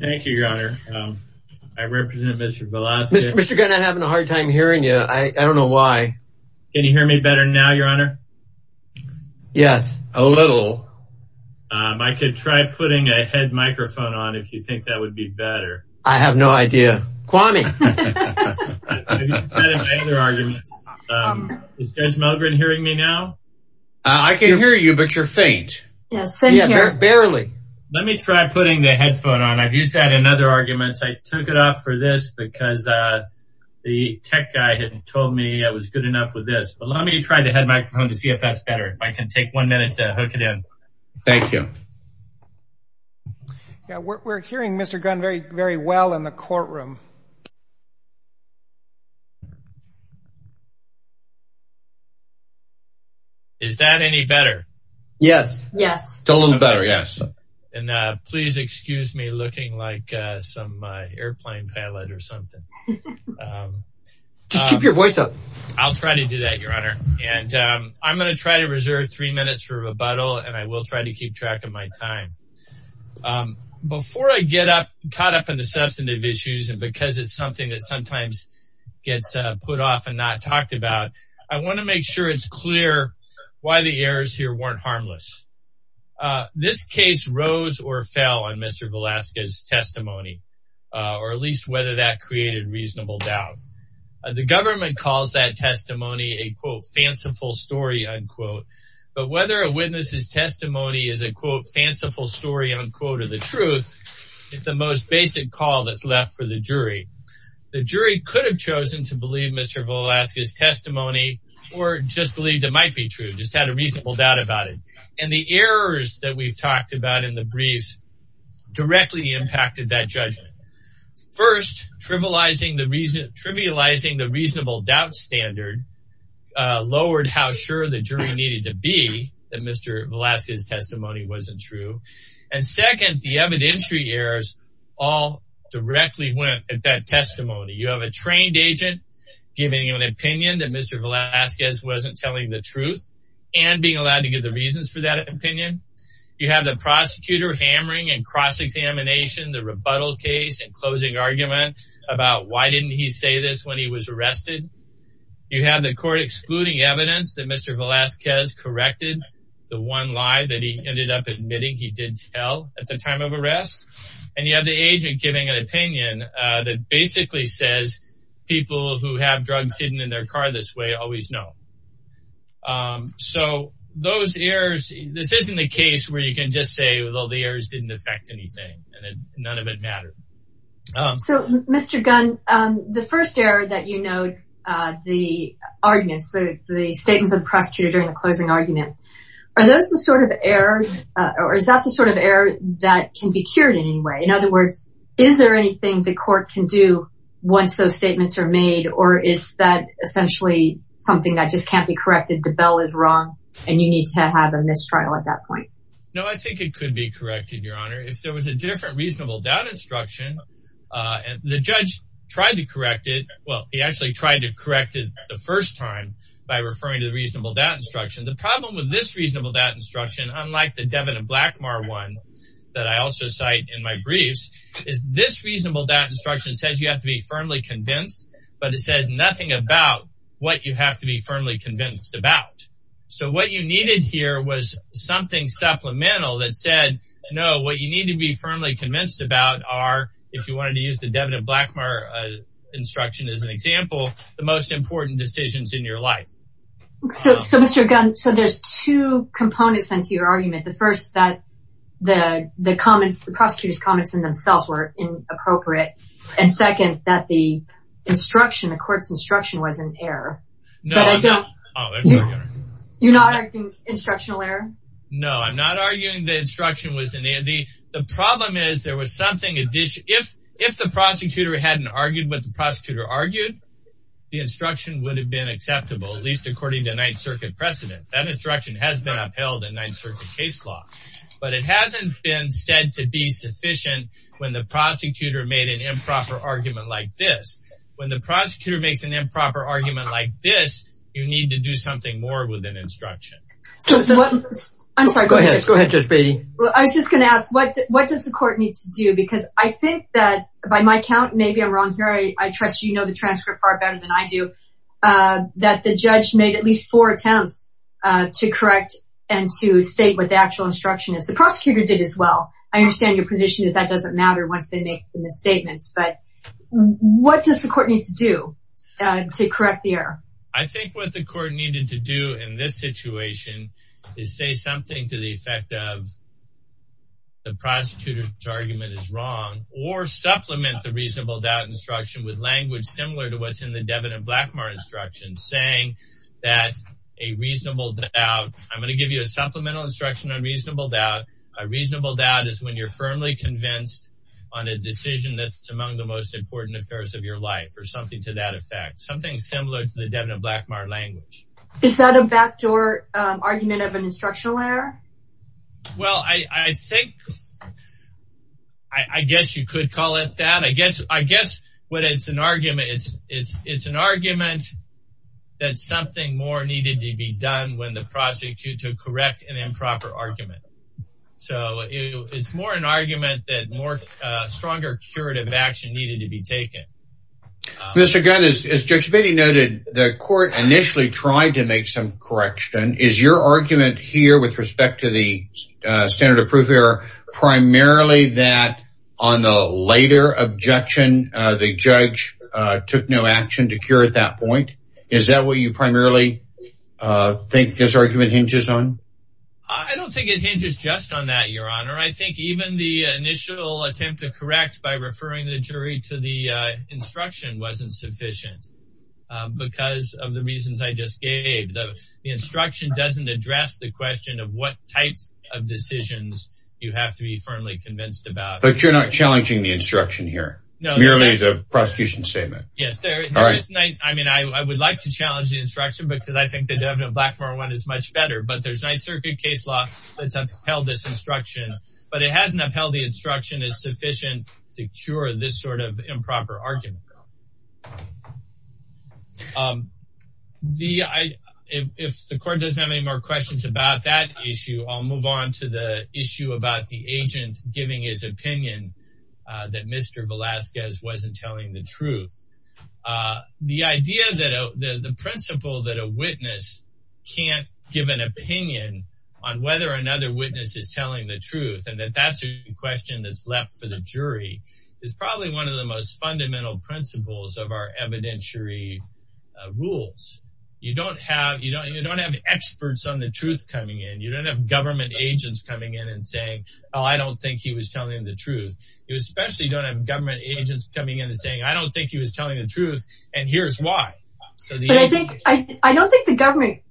Thank you your honor. I represent Mr. Velazquez. Mr. Gunn, I'm having a hard time hearing you. I don't know why. Can you hear me better now your honor? Yes, a little. I could try putting a head microphone on if you think that would be better. I have no idea. Kwame. Is Judge Mulgren hearing me now? I can hear you but you're faint. Yes, barely. Let me try putting the headphone on. I've used that in other arguments. I took it off for this because the tech guy had told me I was good enough with this. But let me try the head microphone to see if that's better. If I can take one minute to hook it in. Thank you. Yeah, we're hearing Mr. Gunn very well in the courtroom. Is that any better? Yes. Yes. It's a little better. Yes. And please excuse me looking like some airplane pilot or something. Just keep your voice up. I'll try to do that your honor. And I'm going to try to reserve three minutes for rebuttal and I will try to keep track of my time. Before I get caught up in the substantive issues and because it's something that sometimes gets put off and not talked about, I want to make sure it's clear why the errors here weren't harmless. This case rose or fell on Mr. Velasquez's testimony or at least whether that created reasonable doubt. The government calls that testimony a quote fanciful story unquote. But whether a witness's testimony is a quote fanciful story unquote or the truth, it's the most basic call that's left for the jury. The jury could have chosen to believe Mr. Velasquez's testimony or just believed it might be true, just had a reasonable doubt about it. And the errors that we've talked about in the briefs directly impacted that judgment. First, trivializing the reasonable doubt standard lowered how sure the jury needed to be that Mr. Velasquez's testimony wasn't true. And second, the evidentiary errors all directly went at that testimony. You have a trained agent giving an opinion that Mr. Velasquez wasn't telling the truth and being allowed to give the reasons for that opinion. You have the prosecutor hammering and cross-examination the rebuttal case and closing argument about why didn't he say this when he was arrested. You have the court excluding evidence that Mr. Velasquez corrected the one lie that he ended up admitting he did tell at the time of arrest. And you have the agent giving an opinion that basically says people who have drugs hidden in their car this way always know. So those errors, this isn't a case where you can just say, well, the errors didn't affect anything and none of it mattered. So Mr. Gunn, the first error that you note, the arguments, the statements of the prosecutor during the closing argument, are those the sort of error or is that the sort of error that can be cured in any way? In other words, is there anything the court can do once those statements are made or is that essentially something that just can't be corrected? DeBell is wrong and you need to have a mistrial at that was a different reasonable doubt instruction. The judge tried to correct it. Well, he actually tried to correct it the first time by referring to the reasonable doubt instruction. The problem with this reasonable doubt instruction, unlike the Devin and Blackmar one that I also cite in my briefs, is this reasonable doubt instruction says you have to be firmly convinced, but it says nothing about what you have to be firmly convinced about. So what you needed here was something supplemental that said, no, what you need to be firmly convinced about are, if you wanted to use the Devin and Blackmar instruction as an example, the most important decisions in your life. So Mr. Gunn, so there's two components into your argument. The first that the comments, the prosecutor's comments in themselves were inappropriate. And second, that the instruction, the court's instruction was an error. No, I'm not. You're not arguing instructional error? No, I'm not arguing the instruction was in the, the, the problem is there was something additional. If, if the prosecutor hadn't argued what the prosecutor argued, the instruction would have been acceptable, at least according to ninth circuit precedent. That instruction has been upheld in ninth circuit case law, but it hasn't been said to be sufficient when the prosecutor made an improper argument like this. When the prosecutor made an improper argument like this, you need to do something more with an instruction. I'm sorry. Go ahead. Go ahead, Judge Beatty. I was just going to ask what, what does the court need to do? Because I think that by my count, maybe I'm wrong here. I trust you know, the transcript far better than I do, that the judge made at least four attempts to correct and to state what the actual instruction is. The prosecutor did as well. I understand your position is that doesn't matter once they make the misstatements, but what does the court need to do to correct the error? I think what the court needed to do in this situation is say something to the effect of the prosecutor's argument is wrong or supplement the reasonable doubt instruction with language similar to what's in the Devin and Blackmar instruction saying that a reasonable doubt, I'm going to give you a supplemental instruction on reasonable doubt. A reasonable doubt is when you're firmly convinced on a decision that's among the most important affairs of your life or something to that effect. Something similar to the Devin and Blackmar language. Is that a backdoor argument of an instructional error? Well, I think, I guess you could call it that. I guess, I guess what it's an argument, it's, it's, it's an argument that something more needed to be done when the prosecutor correct an improper argument. So it's more an argument that more stronger curative action needed to be taken. Mr. Gunn, as Judge Beatty noted, the court initially tried to make some correction. Is your argument here with respect to the standard of proof error primarily that on the later objection the judge took no action to cure at that point? Is that what you primarily think this argument hinges on? I don't think it hinges just on that, your honor. I think even the instruction wasn't sufficient because of the reasons I just gave. The instruction doesn't address the question of what types of decisions you have to be firmly convinced about. But you're not challenging the instruction here? No. Merely it's a prosecution statement? Yes, sir. All right. I mean, I would like to challenge the instruction because I think the Devin and Blackmar one is much better, but there's night circuit case law that's upheld this instruction, but it hasn't upheld the argument. If the court doesn't have any more questions about that issue, I'll move on to the issue about the agent giving his opinion that Mr. Velazquez wasn't telling the truth. The idea that the principle that a witness can't give an opinion on whether another witness is telling the truth and that that's a question that's left for the jury is probably one of the most fundamental principles of our evidentiary rules. You don't have experts on the truth coming in. You don't have government agents coming in and saying, oh, I don't think he was telling the truth. You especially don't have government agents coming in and saying, I don't think he was telling the truth and here's why. I don't think the government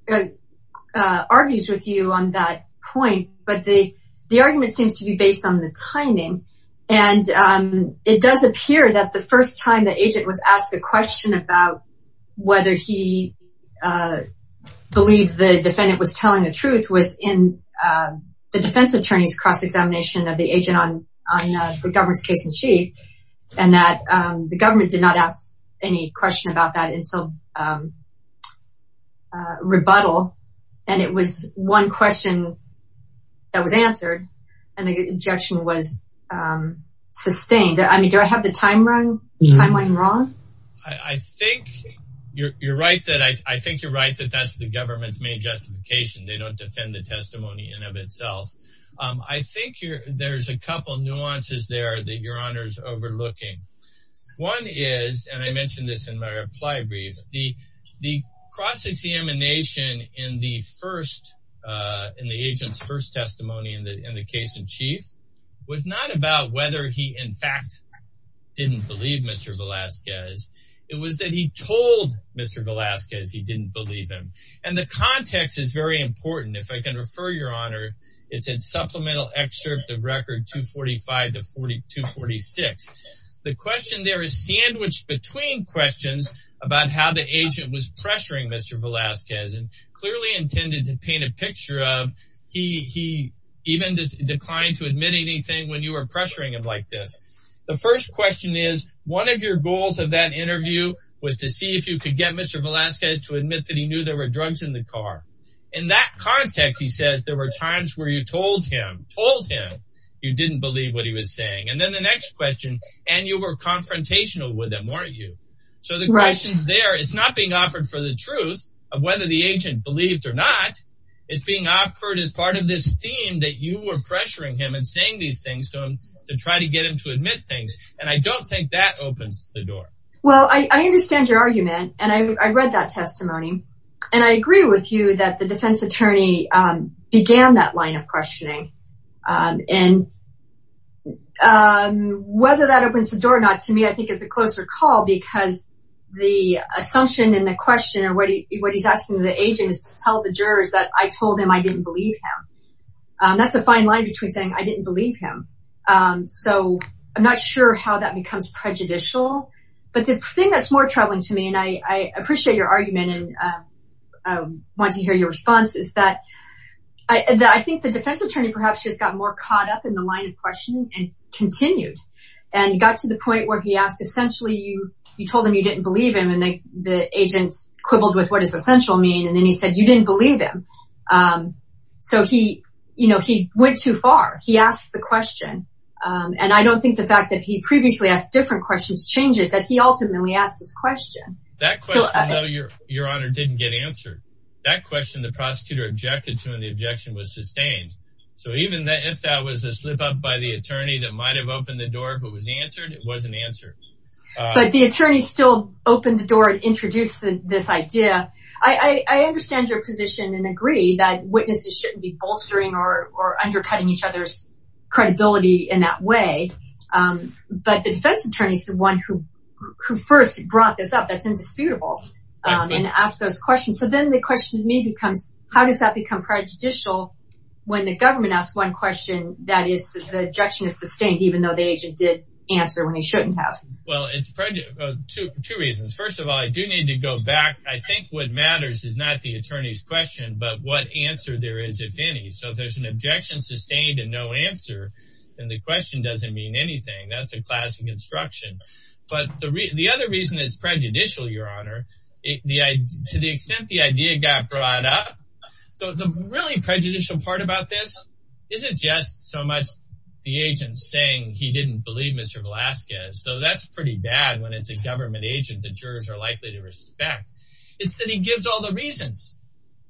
argues with you on that point, but the argument seems to be based on the timing and it does appear that the first time the agent was asked a question about whether he believed the defendant was telling the truth was in the defense attorney's cross-examination of the agent on the government's case-in-chief and that the government did not ask any question about that until the rebuttal and it was one question that was answered and the objection was sustained. I mean, do I have the timeline wrong? I think you're right that that's the government's main justification. They don't defend the testimony in of itself. I think there's a couple nuances there that your honor's overlooking. One is, and I mentioned this in my reply brief, the cross-examination in the agent's first testimony in the case-in-chief was not about whether he in fact didn't believe Mr. Velasquez. It was that he told Mr. Velasquez he didn't believe him and the context is very important. If I can refer your honor, it's in supplemental excerpt of record 245 to 246. The question there is sandwiched between questions about how the agent was pressuring Mr. Velasquez and clearly intended to paint a picture of he even declined to admit anything when you were pressuring him like this. The first question is one of your goals of that interview was to see if you could get Mr. Velasquez to admit that he there were times where you told him you didn't believe what he was saying. And then the next question, and you were confrontational with him, weren't you? So the questions there, it's not being offered for the truth of whether the agent believed or not. It's being offered as part of this theme that you were pressuring him and saying these things to him to try to get him to admit things. And I don't think that opens the door. Well, I understand your argument and I read that testimony and I agree with you that the defense attorney began that line of questioning. And whether that opens the door or not to me, I think it's a closer call because the assumption and the question or what he's asking the agent is to tell the jurors that I told him I didn't believe him. That's a fine line between saying I didn't believe him. So I'm not sure how that becomes prejudicial. But the thing that's more troubling to me, I appreciate your argument and want to hear your response, is that I think the defense attorney perhaps just got more caught up in the line of questioning and continued and got to the point where he asked essentially you told him you didn't believe him and the agent quibbled with what does essential mean? And then he said, you didn't believe him. So he went too far. He asked the question. And I don't think the fact that he previously asked different questions changes that he ultimately asked this question. That question, your honor, didn't get answered. That question the prosecutor objected to and the objection was sustained. So even if that was a slip up by the attorney that might have opened the door, if it was answered, it wasn't answered. But the attorney still opened the door and introduced this idea. I understand your position and agree that witnesses shouldn't be bolstering or undercutting each other's credibility in that way. But the defense attorney is the one who first brought this up. That's indisputable. And ask those questions. So then the question to me becomes, how does that become prejudicial when the government asks one question that is the objection is sustained, even though the agent did answer when he shouldn't have? Well, it's two reasons. First of all, I do need to go back. I think what matters is not the attorney's question, but what answer there is, if any. So that's a class of construction. But the other reason is prejudicial, your honor. To the extent the idea got brought up, the really prejudicial part about this isn't just so much the agent saying he didn't believe Mr. Velasquez, though that's pretty bad when it's a government agent the jurors are likely to respect. It's that he gives all the reasons.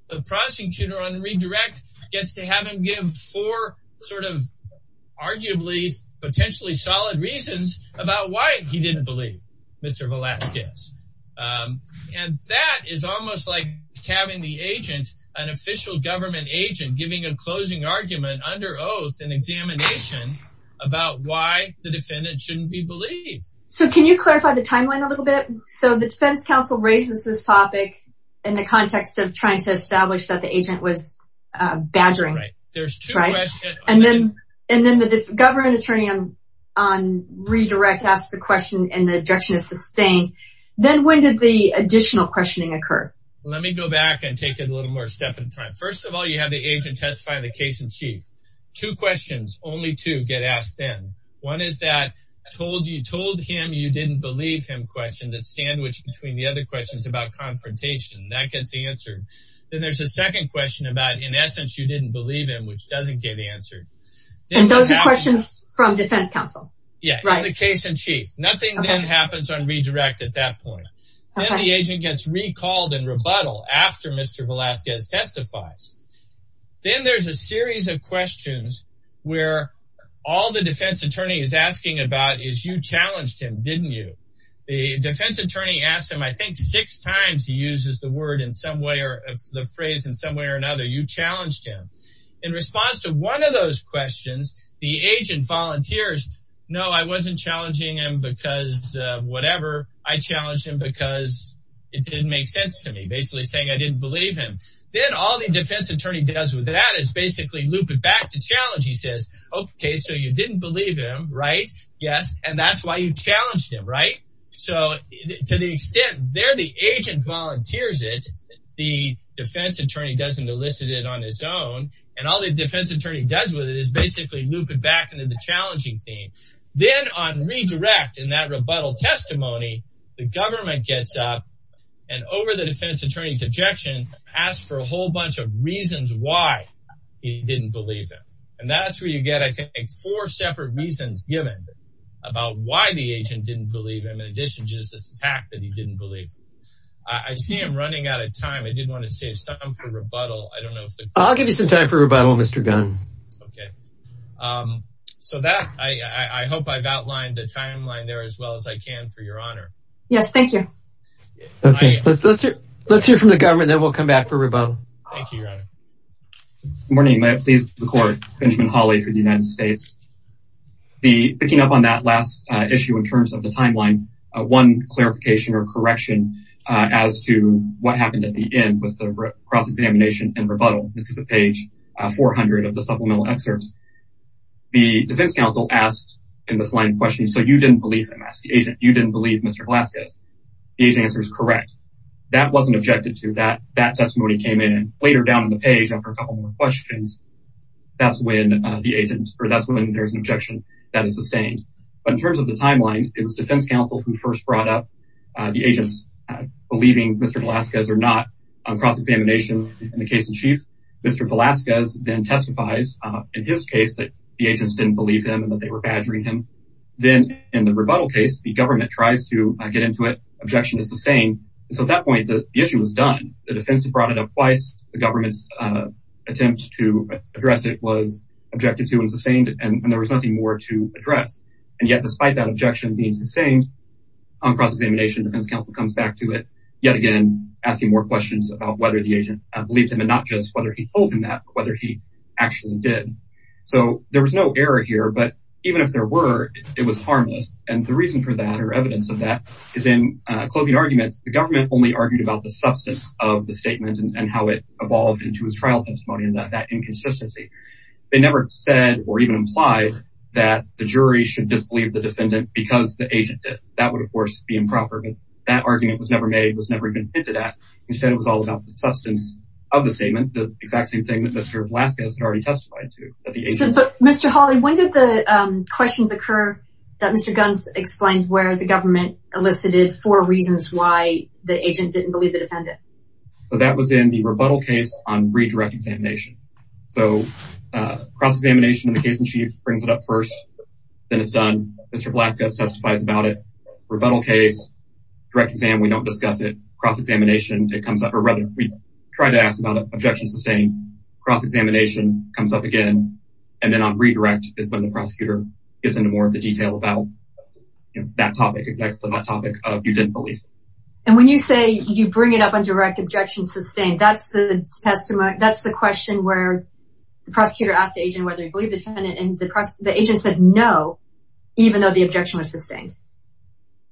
The prosecutor on redirect gets to have him give four sort of arguably potentially solid reasons about why he didn't believe Mr. Velasquez. And that is almost like having the agent, an official government agent, giving a closing argument under oath and examination about why the defendant shouldn't be believed. So can you clarify the timeline a little bit? So the defense counsel raises this topic in the context of trying to establish that the agent was badgering. And then the government attorney on redirect asks the question and the objection is sustained. Then when did the additional questioning occur? Let me go back and take a little more step in time. First of all, you have the agent testifying the case in chief. Two questions, only two, get asked then. One is that told him you didn't believe him question that's sandwiched between the other questions about confrontation. That gets answered. Then there's a second question about in essence you didn't believe him, which doesn't get answered. And those are questions from defense counsel? Yeah, right. The case in chief. Nothing then happens on redirect at that point. Then the agent gets recalled and rebuttal after Mr. Velasquez testifies. Then there's a all the defense attorney is asking about is you challenged him, didn't you? The defense attorney asked him, I think, six times. He uses the word in some way or the phrase in some way or another. You challenged him in response to one of those questions. The agent volunteers. No, I wasn't challenging him because whatever. I challenged him because it didn't make sense to me, basically saying I didn't believe him. Then all the defense attorney does with that is basically loop it back to challenge. He says, OK, so you didn't believe him, right? Yes. And that's why you challenged him. Right. So to the extent there, the agent volunteers it. The defense attorney doesn't elicit it on his own. And all the defense attorney does with it is basically loop it back into the challenging theme. Then on redirect in that rebuttal testimony, the government gets up and over the defense attorney's objection, ask for a whole bunch of reasons why he didn't believe that. And that's where you get, I think, four separate reasons given about why the agent didn't believe him. In addition, just the fact that he didn't believe. I see him running out of time. I did want to save some for rebuttal. I don't know if I'll give you some time for rebuttal, Mr. Gunn. OK, so that I hope I've outlined the timeline there as well as I can, for your honor. Yes, thank you. OK, let's let's let's hear from the government and we'll come back for rebuttal. Thank you, your honor. Good morning. Please, the court. Benjamin Hawley for the United States. The picking up on that last issue in terms of the timeline, one clarification or correction as to what happened at the end with the cross-examination and rebuttal. This is a page 400 of the supplemental excerpts. The defense counsel asked in this line question, so you didn't believe him. You didn't believe Mr. Velazquez. The answer is correct. That wasn't objected to. That testimony came in later down on the page after a couple more questions. That's when the agent or that's when there's an objection that is sustained. But in terms of the timeline, it was defense counsel who first brought up the agents believing Mr. Velazquez or not on cross-examination in the case in chief. Mr. Velazquez then testifies in his case that the agents didn't believe him and that they were badgering him. Then in the rebuttal case, the government tries to get into it. Objection is sustained. So at that point, the issue was done. The defense brought it up twice. The government's attempt to address it was objected to and sustained and there was nothing more to address. And yet, despite that objection being sustained on cross-examination, defense counsel comes back to it yet again, asking more questions about whether the agent believed him and not just whether he told him that, whether he actually did. So there was no error here, but even if there were, it was harmless. And the reason for that or evidence of that is in a closing argument, the government only argued about the substance of the statement and how it evolved into his trial testimony and that inconsistency. They never said or even implied that the jury should disbelieve the defendant because the agent did. That would, of course, be improper. But that argument was never made, was never even hinted at. Instead, it was all about the substance of the statement, the exact same thing that Mr. Velazquez had testified to. But Mr. Hawley, when did the questions occur that Mr. Gunz explained where the government elicited for reasons why the agent didn't believe the defendant? So that was in the rebuttal case on redirect examination. So cross-examination in the case in chief brings it up first, then it's done. Mr. Velazquez testifies about it. Rebuttal case, direct exam, we don't discuss it. Cross-examination, it comes up or rather we try to ask about objection sustained. Cross-examination comes up again. And then on redirect is when the prosecutor gets into more of the detail about that topic, exactly that topic of you didn't believe. And when you say you bring it up on direct objection sustained, that's the question where the prosecutor asked the agent whether he believed the defendant and the agent said no, even though the objection was sustained.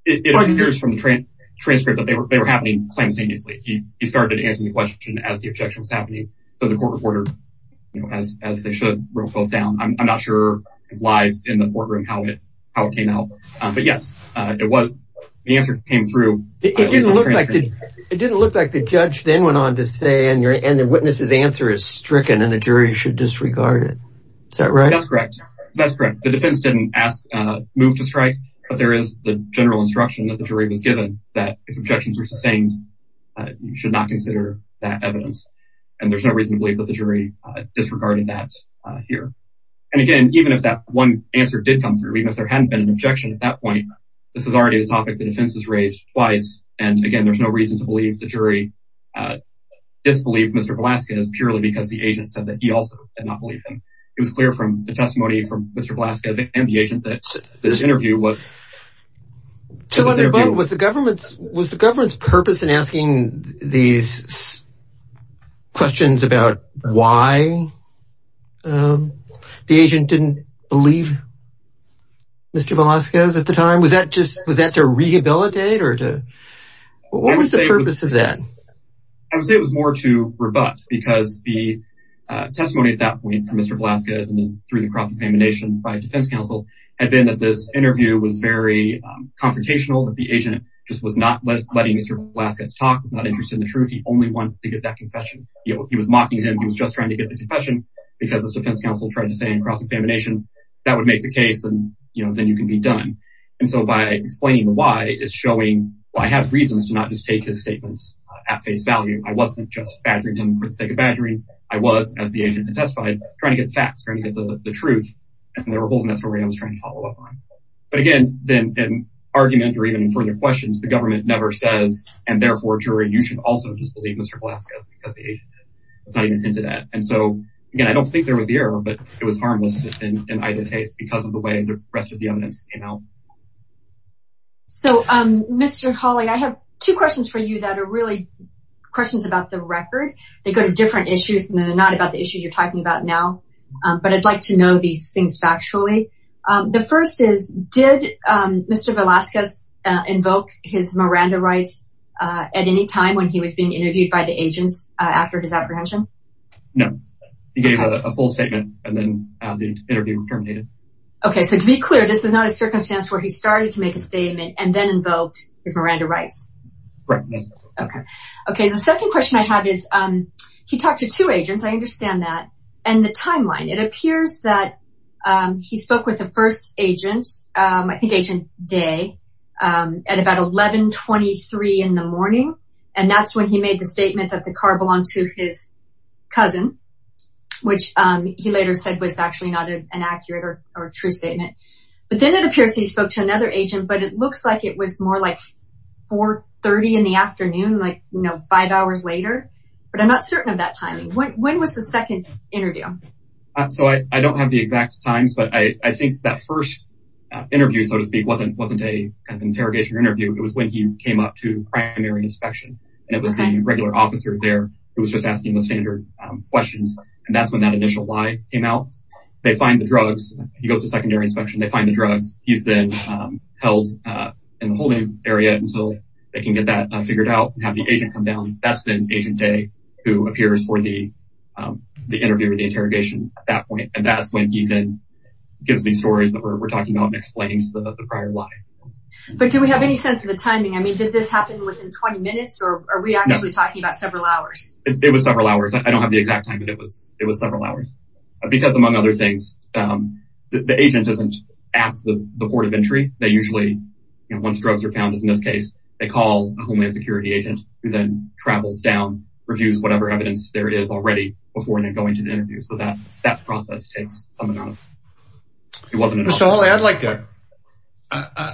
It appears from the transcript that they were simultaneously. He started answering the question as the objection was happening. So the court reported as they should wrote both down. I'm not sure why in the courtroom, how it came out. But yes, it was, the answer came through. It didn't look like the judge then went on to say and the witness's answer is stricken and the jury should disregard it. Is that right? That's correct. That's correct. The defense didn't ask, move to strike, but there is the general instruction that the jury was given that if objections were sustained, you should not consider that evidence. And there's no reason to believe that the jury disregarded that here. And again, even if that one answer did come through, even if there hadn't been an objection at that point, this is already the topic that defense has raised twice. And again, there's no reason to believe the jury disbelieved Mr. Velasquez purely because the agent said that he also did not believe him. It was clear from the testimony from Mr. Velasquez and the agent that this interview was... Was the government's purpose in asking these questions about why the agent didn't believe Mr. Velasquez at the time? Was that to rehabilitate or to... What was the purpose of that? I would say it was more to rebut because the testimony at that point through the cross-examination by defense counsel had been that this interview was very confrontational, that the agent just was not letting Mr. Velasquez talk, was not interested in the truth. He only wanted to get that confession. He was mocking him. He was just trying to get the confession because this defense counsel tried to say in cross-examination, that would make the case and then you can be done. And so by explaining the why is showing, well, I have reasons to not just take his statements at face value. I wasn't just badgering for the sake of badgering. I was, as the agent had testified, trying to get facts, trying to get the truth. And there were holes in that story I was trying to follow up on. But again, then in argument or even in further questions, the government never says, and therefore, jury, you should also just believe Mr. Velasquez because the agent did. It's not even hinted at. And so again, I don't think there was the error, but it was harmless in either case because of the way the rest of the evidence came out. So, Mr. Hawley, I have two questions for you that are really questions about the record. They go to different issues and they're not about the issue you're talking about now, but I'd like to know these things factually. The first is, did Mr. Velasquez invoke his Miranda rights at any time when he was being interviewed by the agents after his apprehension? No. He gave a full statement and then the interview terminated. Okay. So to be clear, this is not a circumstance where he started to make a statement and then invoked his Miranda rights. Okay. The second question I have is, he talked to two agents. I understand that. And the timeline, it appears that he spoke with the first agent, I think agent Day, at about 11.23 in the morning. And that's when he made the statement that the car belonged to his cousin, which he later said was actually not an accurate or true statement. But then it appears he spoke to another agent, but it looks like it was more like 4.30 in the afternoon, like five hours later. But I'm not certain of that timing. When was the second interview? So I don't have the exact times, but I think that first interview, so to speak, wasn't an interrogation interview. It was when he came up to primary inspection and it was the regular officer there who was just asking the standard questions. And that's when that initial lie came out. They find the drugs. He goes to secondary inspection. They find the drugs. He's then held in the holding area until they can get that figured out and have the agent come down. That's then agent Day who appears for the interview or the interrogation at that point. And that's when he then gives these stories that we're talking about and explains the prior lie. But do we have any sense of the timing? I mean, did this happen within 20 minutes or are we actually talking about several hours? It was several hours. I don't have the exact time, but it was several hours. Because among other things, the agent isn't at the port of entry. They usually, once drugs are found, as in this case, they call a Homeland Security agent who then travels down, reviews whatever evidence there is already before they're going to the interview. So that process takes some amount of time.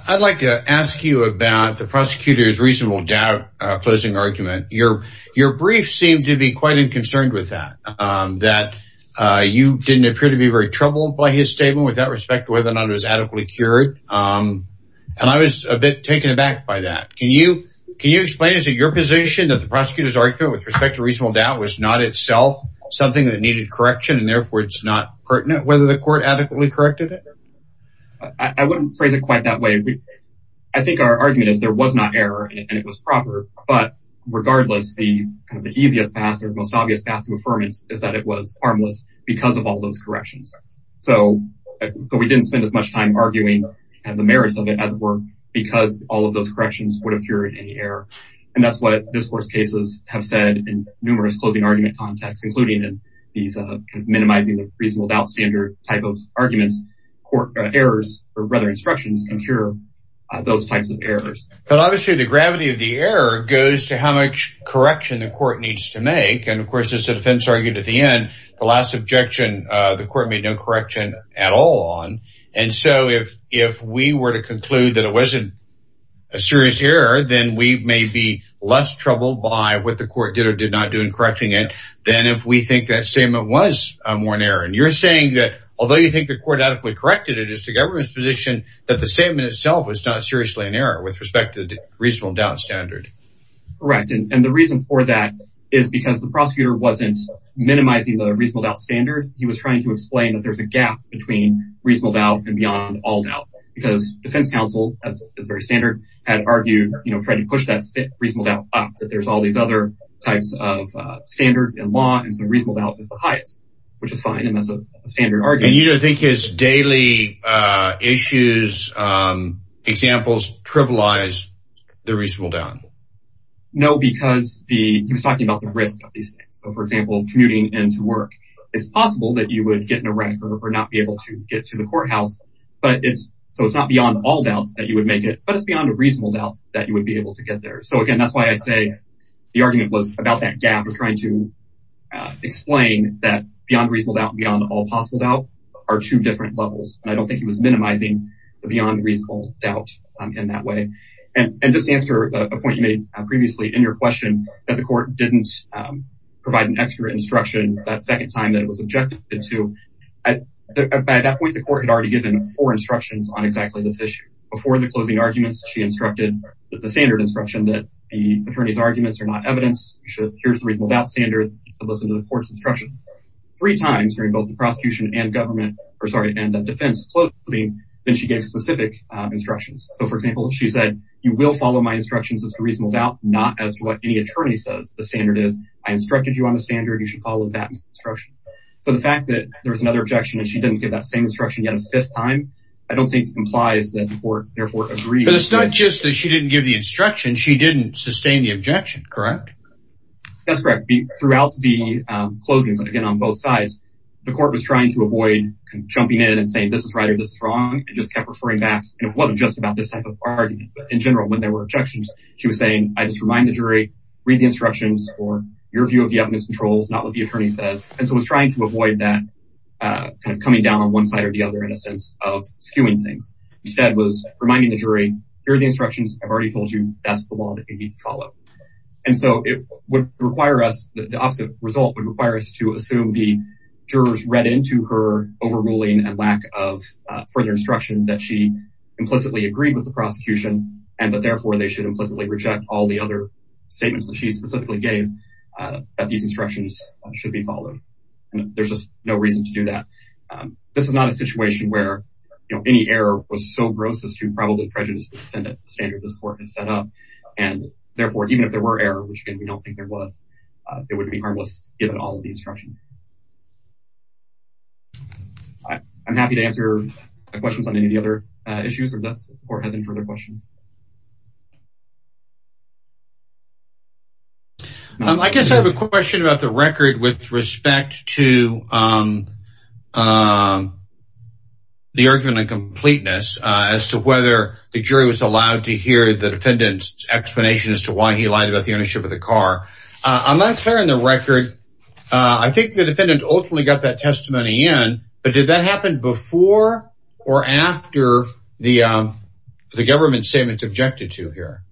I'd like to ask you about the prosecutor's reasonable doubt closing argument. Your brief seems to be quite unconcerned with that. That you didn't appear to be very troubled by his statement with that respect to whether or not it was adequately cured. And I was a bit taken aback by that. Can you explain your position that the prosecutor's argument with respect to reasonable doubt was not itself something that needed correction and therefore it's not pertinent whether the court adequately corrected it? I wouldn't phrase it quite that way. I think our argument is there was not error and it was proper, but regardless, the easiest path or the most obvious path to affirmance is that it was harmless because of all those corrections. So we didn't spend as much time arguing and the merits of it as it were because all of those corrections would have cured any error. And that's what discourse cases have said in numerous closing argument contexts, including in these minimizing the reasonable doubt standard type of arguments, court errors or rather instructions can cure those types of errors. But obviously the gravity of the error goes to how much correction the court needs to make. And of course, as the defense argued at the end, the last objection, the court made no correction at all on. And so if we were to conclude that it wasn't a serious error, then we may be less troubled by what the court did or did not do than if we think that statement was more an error. And you're saying that although you think the court adequately corrected it, it is the government's position that the statement itself was not seriously an error with respect to the reasonable doubt standard. Correct. And the reason for that is because the prosecutor wasn't minimizing the reasonable doubt standard. He was trying to explain that there's a gap between reasonable doubt and beyond all doubt because defense counsel, as is very standard, had argued, you know, to push that reasonable doubt up, that there's all these other types of standards in law. And so reasonable doubt is the highest, which is fine. And that's a standard argument. And you don't think his daily issues, examples, trivialize the reasonable doubt? No, because he was talking about the risk of these things. So for example, commuting into work, it's possible that you would get in a wreck or not be able to get to the courthouse. But it's so it's not beyond all doubt that you would make it, but it's beyond a reasonable doubt that you would be able to get there. So again, that's why I say the argument was about that gap of trying to explain that beyond reasonable doubt, beyond all possible doubt are two different levels. And I don't think he was minimizing the beyond reasonable doubt in that way. And just answer a point you made previously in your question that the court didn't provide an extra instruction that second time that it was objected to. At that point, the court had already given four arguments. She instructed the standard instruction that the attorney's arguments are not evidence. Here's the reasonable doubt standard. Listen to the court's instruction three times during both the prosecution and government, or sorry, and defense closing. Then she gave specific instructions. So for example, she said, you will follow my instructions as a reasonable doubt, not as what any attorney says. The standard is I instructed you on the standard. You should follow that instruction. So the fact that there was another objection, and she didn't give that same instruction yet a fifth time, I don't think implies that the court therefore agreed. It's not just that she didn't give the instruction. She didn't sustain the objection, correct? That's correct. Throughout the closings, again, on both sides, the court was trying to avoid jumping in and saying, this is right or this is wrong, and just kept referring back. And it wasn't just about this type of argument, but in general, when there were objections, she was saying, I just remind the jury, read the instructions for your view of the evidence controls, not what the attorney says. And so it was trying to avoid that kind of coming down on side or the other in a sense of skewing things. Instead, it was reminding the jury, here are the instructions. I've already told you that's the law that you need to follow. And so it would require us, the opposite result would require us to assume the jurors read into her overruling and lack of further instruction that she implicitly agreed with the prosecution, and that therefore they should implicitly reject all the other statements that she specifically gave that these instructions should be followed. There's just no reason to do that. This is not a situation where any error was so gross as to probably prejudice the defendant standard this court has set up. And therefore, even if there were error, which again, we don't think there was, it wouldn't be harmless given all of the instructions. I'm happy to answer questions on any of the other issues or if the court has any further questions. I guess I have a question about the record with respect to the argument on completeness as to whether the jury was allowed to hear the defendant's explanation as to why he lied about the ownership of the car. I'm not clear on the record. I think the defendant ultimately got that testimony in, but did that happen before or after the government statements objected to here?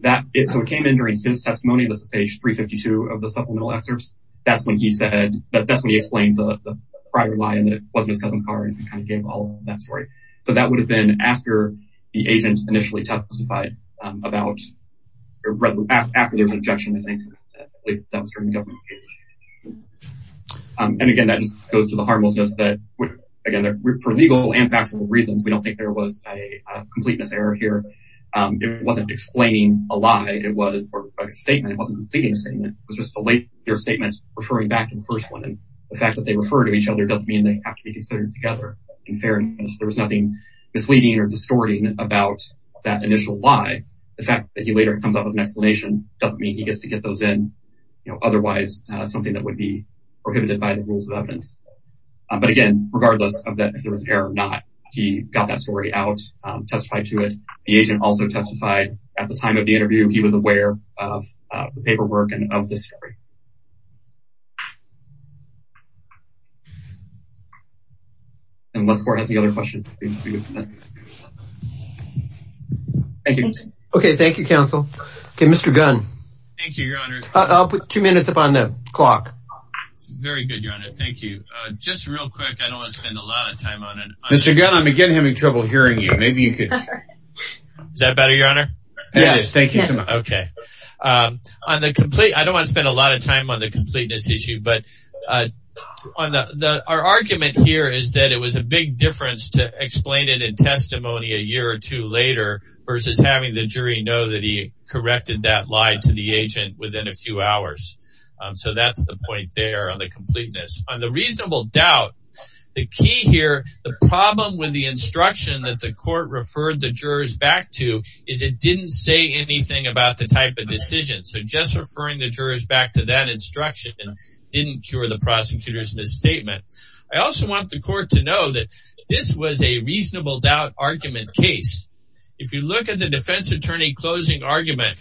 That is, so it came in during his testimony. This is page 352 of the supplemental excerpts. That's when he said that that's when he explained the prior lie and that it wasn't his cousin's car and kind of gave all that story. So that would have been after the agent initially testified about after there was an objection, I think that was during the government's case. And again, that just goes to the harmlessness that again, for legal and factual reasons, we don't think there was a completeness error here. It wasn't explaining a lie. It was a statement. It wasn't completing a statement. It was just a later statement referring back to the first one. And the fact that they refer to each other doesn't mean they have to be considered together in fairness. There was nothing misleading or distorting about that initial lie. The fact that he later comes up with an explanation doesn't mean he gets to get those in, you know, something that would be prohibited by the rules of evidence. But again, regardless of that, if there was an error or not, he got that story out, testified to it. The agent also testified at the time of the interview, he was aware of the paperwork and of this story. Unless the court has any other questions. Thank you. Okay. Thank you, counsel. Okay. Mr. Gunn. Thank you, Your Honor. I'll put two minutes upon the clock. Very good, Your Honor. Thank you. Just real quick. I don't want to spend a lot of time on it. Mr. Gunn, I'm again having trouble hearing you. Maybe you could. Is that better, Your Honor? Yes. Thank you so much. Okay. On the complete, I don't want to spend a lot of time on the completeness issue. But our argument here is that it was a big difference to explain it in testimony a year or two later versus having the jury know that he corrected that lie to the agent within a few hours. So that's the point there on the completeness. On the reasonable doubt, the key here, the problem with the instruction that the court referred the jurors back to is it didn't say anything about the type of decision. So just referring the jurors back to that instruction didn't cure the prosecutor's misstatement. I also want the court to know that this was a reasonable doubt argument case. If you look at the defense attorney closing argument,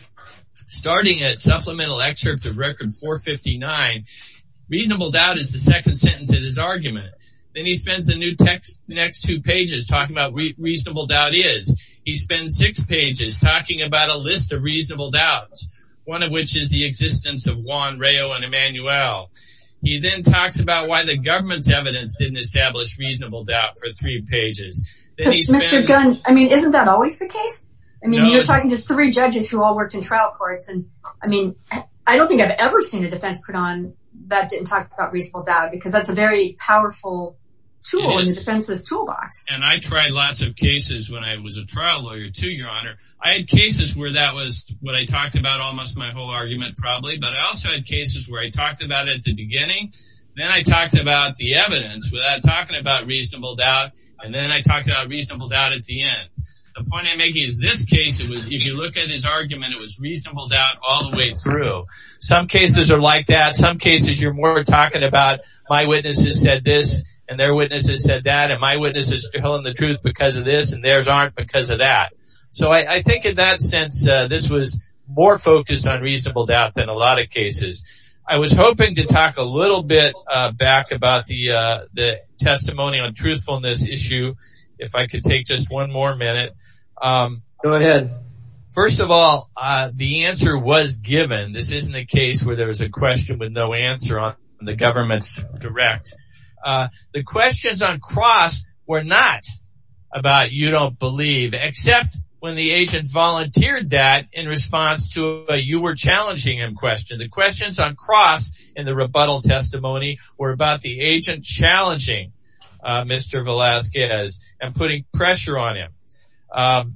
starting at supplemental excerpt of record 459, reasonable doubt is the second sentence of his argument. Then he spends the next two pages talking about what reasonable doubt is. He spends six pages talking about a list of reasonable doubts, one of which is the existence of Juan, Rao, and Emanuel. He then talks about why the government's evidence didn't establish reasonable doubt for three pages. Mr. Gunn, isn't that always the case? You're talking to three judges who all worked in trial courts. I don't think I've ever seen a defense court on that didn't talk about reasonable doubt because that's a very powerful tool in the defense's toolbox. I tried lots of cases when I was a trial lawyer too, Your Honor. I had cases where that was what I talked about almost my whole argument probably, but I also had cases where I talked at the beginning, then I talked about the evidence without talking about reasonable doubt, and then I talked about reasonable doubt at the end. The point I'm making is this case, if you look at his argument, it was reasonable doubt all the way through. Some cases are like that. Some cases, you're more talking about my witnesses said this and their witnesses said that and my witnesses telling the truth because of this and theirs aren't because of that. So I think in that sense, this was more focused on reasonable doubt than a lot of cases. I was hoping to talk a little bit back about the testimony on truthfulness issue if I could take just one more minute. Go ahead. First of all, the answer was given. This isn't a case where there was a question with no answer on the government's direct. The questions on cross were not about you don't believe, except when the agent volunteered that in response to you were challenging him. The questions on cross in the rebuttal testimony were about the agent challenging Mr. Velasquez and putting pressure on him.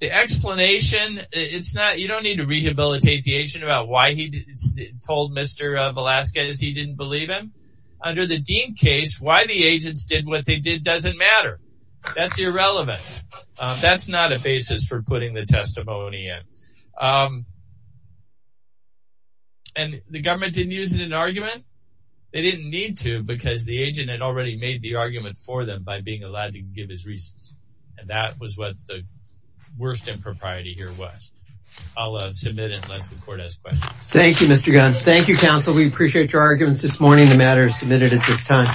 The explanation, you don't need to rehabilitate the agent about why he told Mr. Velasquez he didn't believe him. Under the Dean case, why the agents did what they did doesn't matter. That's irrelevant. That's not a basis for putting the testimony in. And the government didn't use it in an argument. They didn't need to because the agent had already made the argument for them by being allowed to give his reasons. And that was what the worst impropriety here was. I'll submit it unless the court has questions. Thank you, Mr. Gunn. Thank you, counsel. We appreciate your arguments this morning. The matter is submitted at this time.